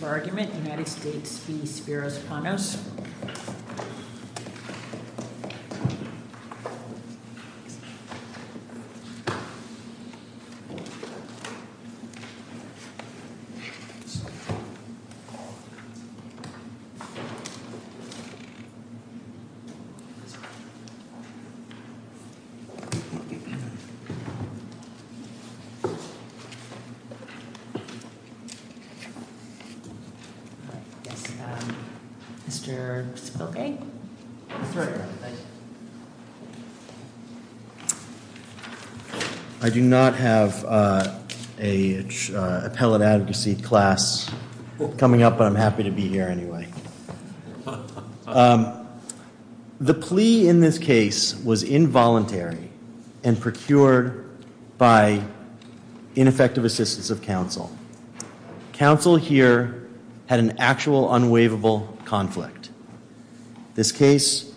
for argument, United States v. Spiros Panos. I do not have an appellate advocacy class coming up, but I'm happy to be here anyway. The plea in this case was involuntary and procured by ineffective assistance of counsel. Counsel here had an actual unwaivable conflict. This case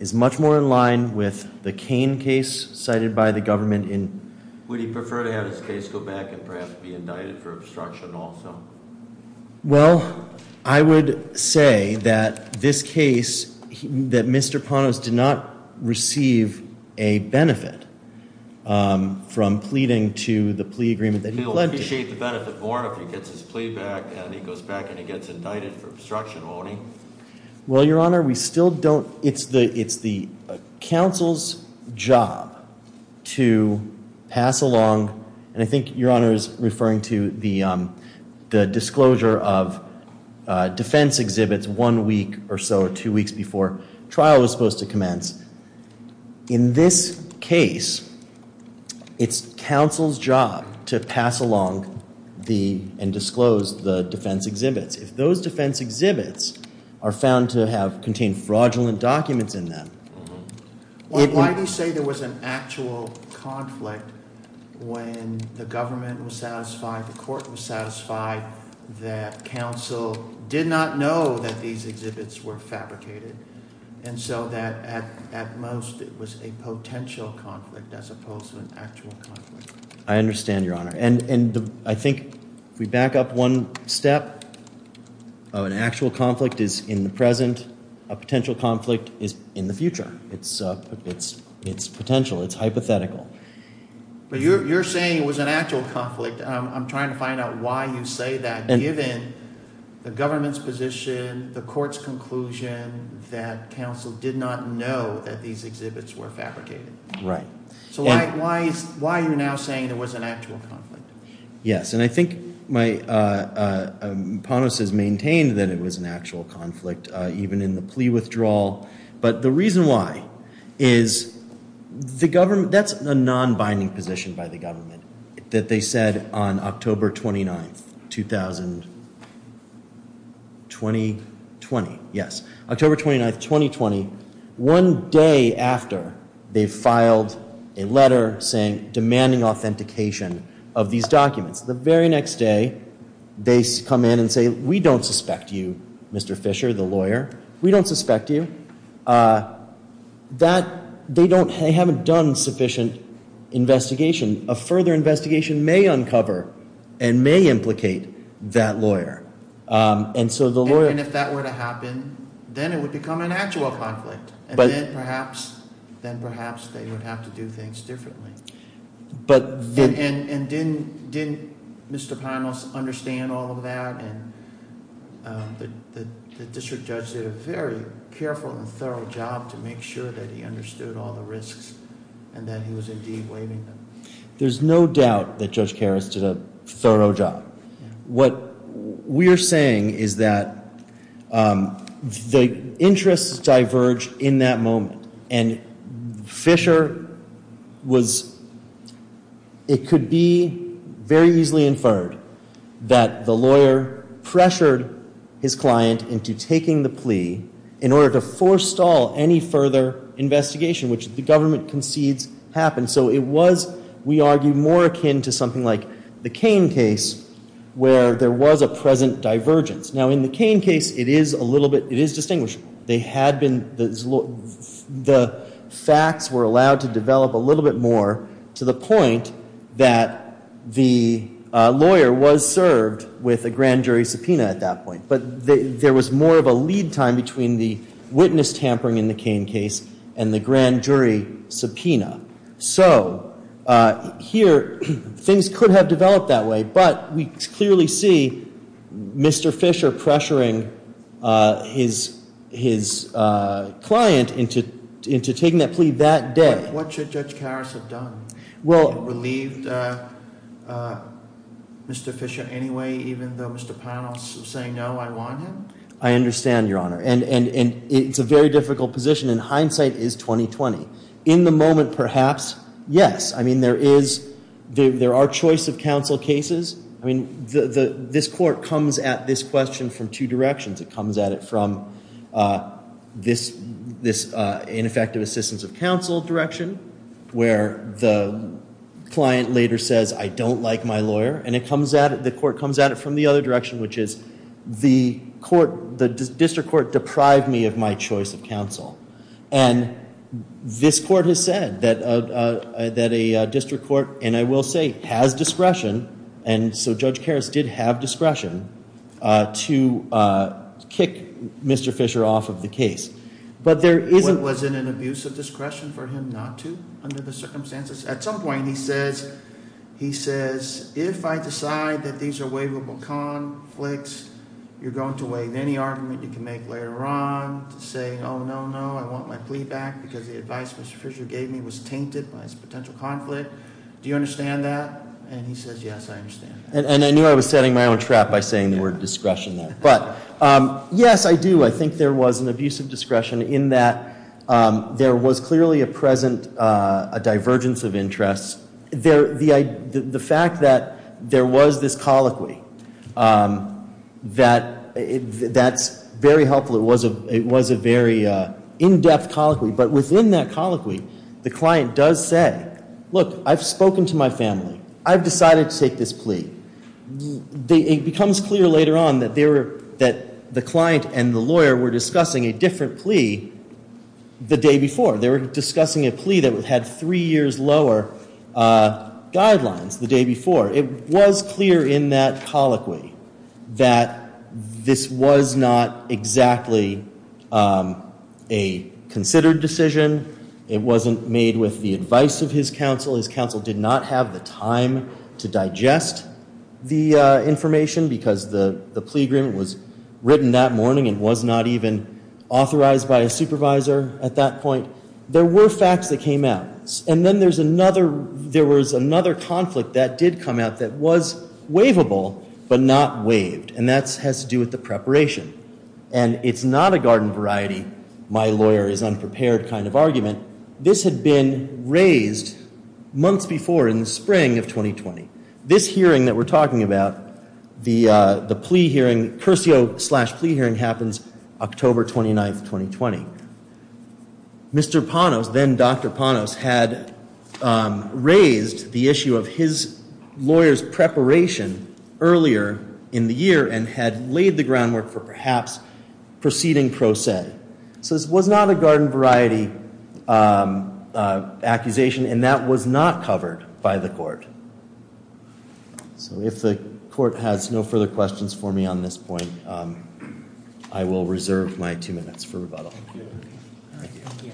is much more in line with the Cain case cited by the government in... Would he prefer to have his case go back and perhaps be indicted for obstruction also? Well, I would say that this case... That Mr. Panos did not receive a benefit from pleading to the plea agreement that he pled to. He'll appreciate the benefit more if he gets his plea back and he goes back and he gets indicted for obstruction loaning. Well, Your Honor, we still don't... It's the counsel's job to pass along... And I think Your Honor is referring to the disclosure of defense exhibits one week or so or two weeks before trial was supposed to commence. In this case, it's counsel's job to pass along and disclose the defense exhibits. If those defense exhibits are found to have contained fraudulent documents in them... Why do you say there was an actual conflict when the government was satisfied, the court was satisfied... That counsel did not know that these exhibits were fabricated and so that at most it was a potential conflict as opposed to an actual conflict? I understand, Your Honor. And I think if we back up one step, an actual conflict is in the present, a potential conflict is in the future. It's potential. It's hypothetical. But you're saying it was an actual conflict. I'm trying to find out why you say that given the government's position, the court's conclusion that counsel did not know that these exhibits were fabricated. Right. So why are you now saying there was an actual conflict? Yes. And I think my... Ponos has maintained that it was an actual conflict even in the plea withdrawal. But the reason why is the government... On October 29th, 2020. Yes. October 29th, 2020, one day after they filed a letter demanding authentication of these documents. The very next day, they come in and say, we don't suspect you, Mr. Fisher, the lawyer. We don't suspect you. They haven't done sufficient investigation. A further investigation may uncover and may implicate that lawyer. And so the lawyer... And if that were to happen, then it would become an actual conflict. But... And then perhaps they would have to do things differently. But... And didn't Mr. Ponos understand all of that? And the district judge did a very careful and thorough job to make sure that he understood all the risks and that he was indeed waiving them. There's no doubt that Judge Karras did a thorough job. What we're saying is that the interests diverge in that moment. And Fisher was... It could be very easily inferred that the lawyer pressured his client into taking the plea in order to forestall any further investigation, which the government concedes happened. So it was, we argue, more akin to something like the Cain case, where there was a present divergence. Now, in the Cain case, it is a little bit... It is distinguishable. They had been... The facts were allowed to develop a little bit more to the point that the lawyer was served with a grand jury subpoena at that point. But there was more of a lead time between the witness tampering in the Cain case and the grand jury subpoena. So here, things could have developed that way. But we clearly see Mr. Fisher pressuring his client into taking that plea that day. What should Judge Karras have done? Well... Relieved Mr. Fisher anyway, even though Mr. Panos was saying, no, I want him? I understand, Your Honor. And it's a very difficult position. And hindsight is 20-20. In the moment, perhaps, yes. I mean, there are choice of counsel cases. I mean, this court comes at this question from two directions. It comes at it from this ineffective assistance of counsel direction, where the client later says, I don't like my lawyer. And the court comes at it from the other direction, which is, the district court deprived me of my choice of counsel. And this court has said that a district court, and I will say, has discretion. And so Judge Karras did have discretion to kick Mr. Fisher off of the case. But there isn't... Wasn't an abuse of discretion for him not to, under the circumstances? At some point, he says, if I decide that these are waivable conflicts, you're going to waive any argument you can make later on? To say, oh, no, no, I want my plea back, because the advice Mr. Fisher gave me was tainted by this potential conflict? Do you understand that? And he says, yes, I understand. And I knew I was setting my own trap by saying the word discretion there. But, yes, I do. I think there was an abuse of discretion in that there was clearly a present divergence of interest. The fact that there was this colloquy, that's very helpful. It was a very in-depth colloquy. But within that colloquy, the client does say, look, I've spoken to my family. I've decided to take this plea. It becomes clear later on that the client and the lawyer were discussing a different plea the day before. They were discussing a plea that had three years lower guidelines the day before. It was clear in that colloquy that this was not exactly a considered decision. It wasn't made with the advice of his counsel. His counsel did not have the time to digest the information because the plea agreement was written that morning and was not even authorized by a supervisor at that point. There were facts that came out. And then there was another conflict that did come out that was waivable but not waived. And that has to do with the preparation. And it's not a garden variety, my lawyer is unprepared kind of argument. This had been raised months before in the spring of 2020. This hearing that we're talking about, the plea hearing, Cursio-slash-plea hearing happens October 29th, 2020. Mr. Panos, then Dr. Panos, had raised the issue of his lawyer's preparation earlier in the year and had laid the groundwork for perhaps proceeding pro se. So this was not a garden variety accusation and that was not covered by the court. So if the court has no further questions for me on this point, I will reserve my two minutes for rebuttal. Thank you.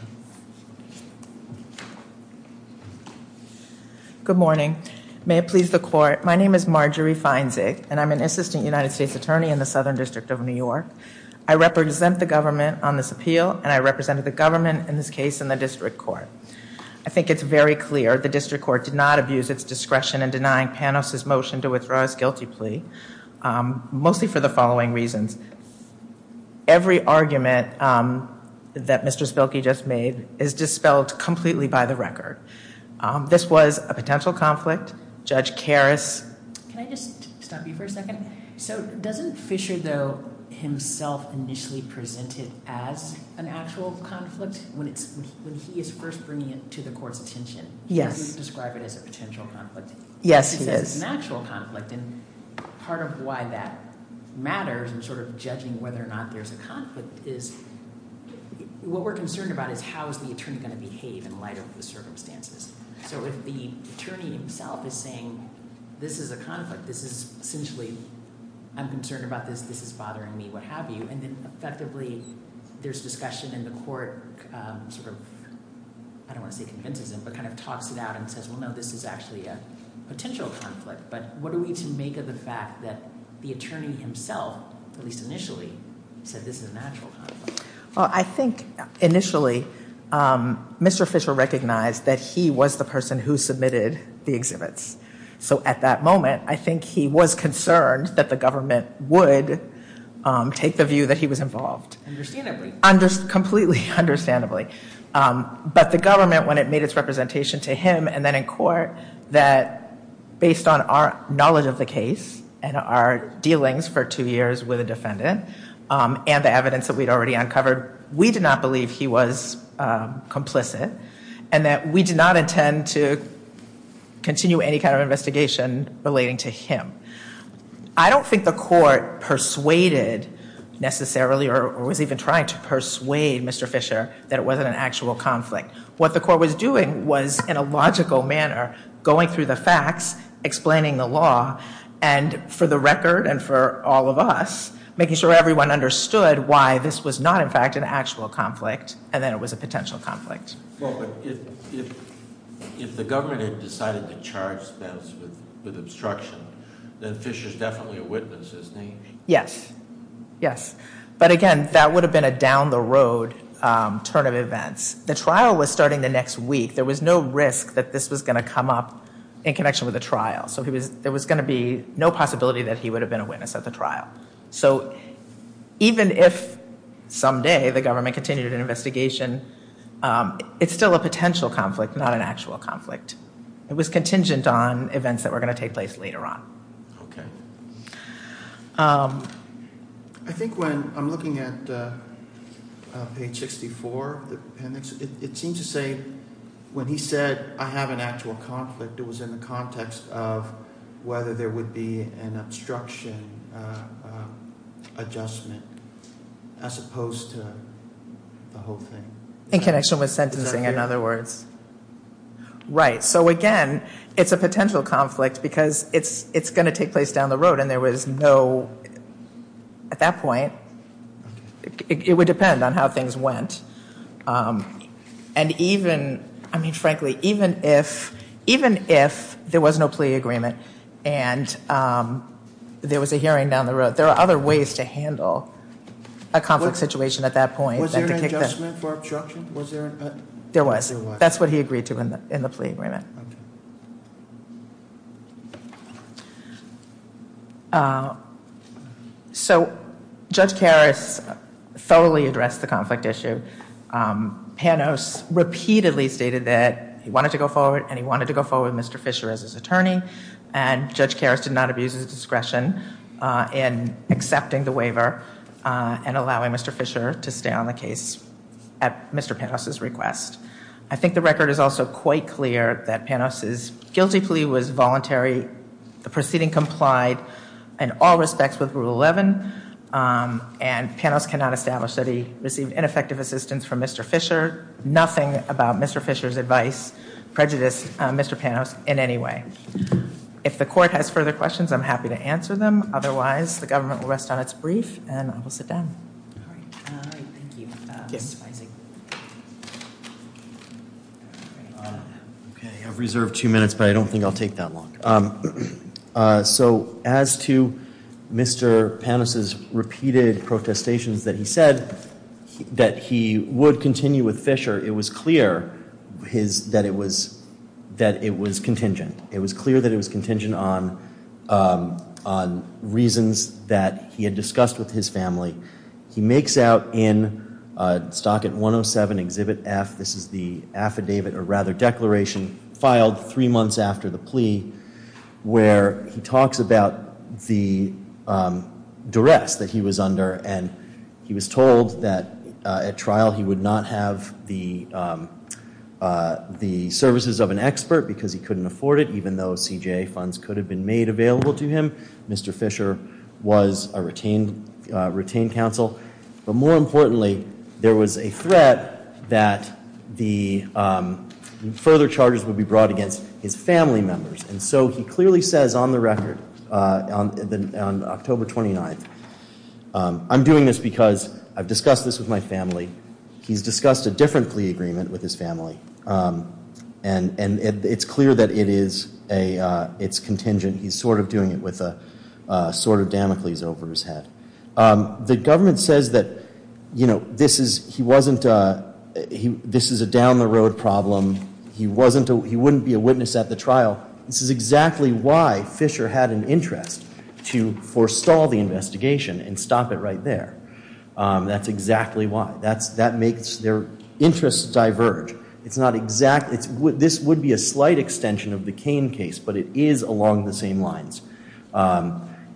Good morning. May it please the court. My name is Marjorie Feinzig and I'm an assistant United States attorney in the Southern District of New York. I represent the government on this appeal and I represented the government in this case in the district court. I think it's very clear the district court did not abuse its discretion in denying Panos' motion to withdraw his guilty plea, mostly for the following reasons. Every argument that Mr. Spilkey just made is dispelled completely by the record. This was a potential conflict. Judge Karras. Can I just stop you for a second? So doesn't Fisher, though, himself initially present it as an actual conflict? When he is first bringing it to the court's attention, he doesn't describe it as a potential conflict. Yes, he is. He says it's an actual conflict, and part of why that matters in sort of judging whether or not there's a conflict is what we're concerned about is how is the attorney going to behave in light of the circumstances. So if the attorney himself is saying this is a conflict, this is essentially I'm concerned about this, this is bothering me, what have you, and then effectively there's discussion and the court sort of, I don't want to say convinces him, but kind of talks it out and says, well, no, this is actually a potential conflict. But what are we to make of the fact that the attorney himself, at least initially, said this is an actual conflict? Well, I think initially Mr. Fisher recognized that he was the person who submitted the exhibits. So at that moment, I think he was concerned that the government would take the view that he was involved. Understandably. Completely understandably. But the government, when it made its representation to him and then in court, that based on our knowledge of the case and our dealings for two years with a defendant and the evidence that we'd already uncovered, we did not believe he was complicit and that we did not intend to continue any kind of investigation relating to him. I don't think the court persuaded necessarily or was even trying to persuade Mr. Fisher that it wasn't an actual conflict. What the court was doing was, in a logical manner, going through the facts, explaining the law, and for the record and for all of us, making sure everyone understood why this was not in fact an actual conflict and that it was a potential conflict. Well, but if the government had decided to charge Spence with obstruction, then Fisher's definitely a witness, isn't he? Yes. Yes. But again, that would have been a down-the-road turn of events. The trial was starting the next week. There was no risk that this was going to come up in connection with the trial. So there was going to be no possibility that he would have been a witness at the trial. So even if someday the government continued an investigation, it's still a potential conflict, not an actual conflict. It was contingent on events that were going to take place later on. Okay. I think when I'm looking at page 64 of the appendix, it seems to say when he said, I have an actual conflict, it was in the context of whether there would be an obstruction adjustment as opposed to the whole thing. In connection with sentencing, in other words. Right. So again, it's a potential conflict because it's going to take place down the road. And there was no, at that point, it would depend on how things went. And even, I mean, frankly, even if there was no plea agreement and there was a hearing down the road, there are other ways to handle a conflict situation at that point. Was there an adjustment for obstruction? There was. That's what he agreed to in the plea agreement. So Judge Karras thoroughly addressed the conflict issue. Panos repeatedly stated that he wanted to go forward, and he wanted to go forward with Mr. Fisher as his attorney. And Judge Karras did not abuse his discretion in accepting the waiver and allowing Mr. Fisher to stay on the case at Mr. Panos' request. I think the record is also quite clear that Panos' guilty plea was voluntary, the proceeding complied in all respects with Rule 11, and Panos cannot establish that he received ineffective assistance from Mr. Fisher, nothing about Mr. Fisher's advice prejudiced Mr. Panos in any way. If the court has further questions, I'm happy to answer them. Otherwise, the government will rest on its brief, and I will sit down. Thank you. I've reserved two minutes, but I don't think I'll take that long. So as to Mr. Panos' repeated protestations that he said that he would continue with Fisher, it was clear that it was contingent. It was clear that it was contingent on reasons that he had discussed with his family. He makes out in Stockett 107, Exhibit F, this is the affidavit, or rather declaration, filed three months after the plea where he talks about the duress that he was under, and he was told that at trial he would not have the services of an expert because he couldn't afford it, even though CJA funds could have been made available to him. Mr. Fisher was a retained counsel. But more importantly, there was a threat that the further charges would be brought against his family members. And so he clearly says on the record, on October 29th, I'm doing this because I've discussed this with my family. He's discussed a different plea agreement with his family, and it's clear that it is contingent. He's sort of doing it with a sword of Damocles over his head. The government says that, you know, this is a down-the-road problem. He wouldn't be a witness at the trial. This is exactly why Fisher had an interest to forestall the investigation and stop it right there. That's exactly why. That makes their interests diverge. It's not exact. This would be a slight extension of the Cain case, but it is along the same lines.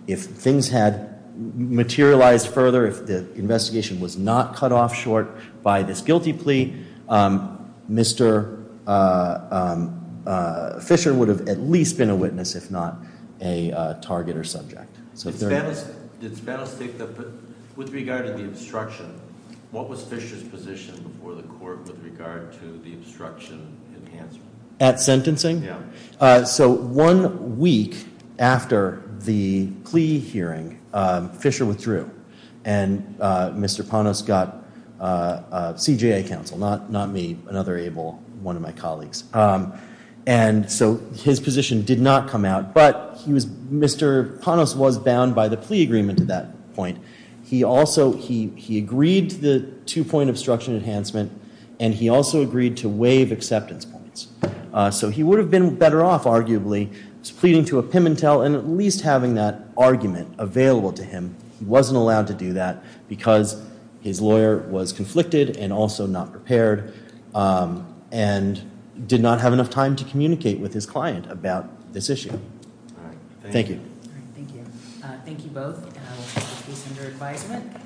If things had materialized further, if the investigation was not cut off short by this guilty plea, Mr. Fisher would have at least been a witness, if not a target or subject. Did Spanos take the plea? With regard to the obstruction, what was Fisher's position before the court with regard to the obstruction enhancement? At sentencing? Yeah. So one week after the plea hearing, Fisher withdrew, and Mr. Ponos got CJA counsel, not me, another able one of my colleagues. And so his position did not come out, but Mr. Ponos was bound by the plea agreement at that point. He agreed to the two-point obstruction enhancement, and he also agreed to waive acceptance points. So he would have been better off, arguably, pleading to a pimentel and at least having that argument available to him. He wasn't allowed to do that because his lawyer was conflicted and also not prepared and did not have enough time to communicate with his client about this issue. All right. Thank you. All right. Thank you. Thank you both, and I will take these under advisement.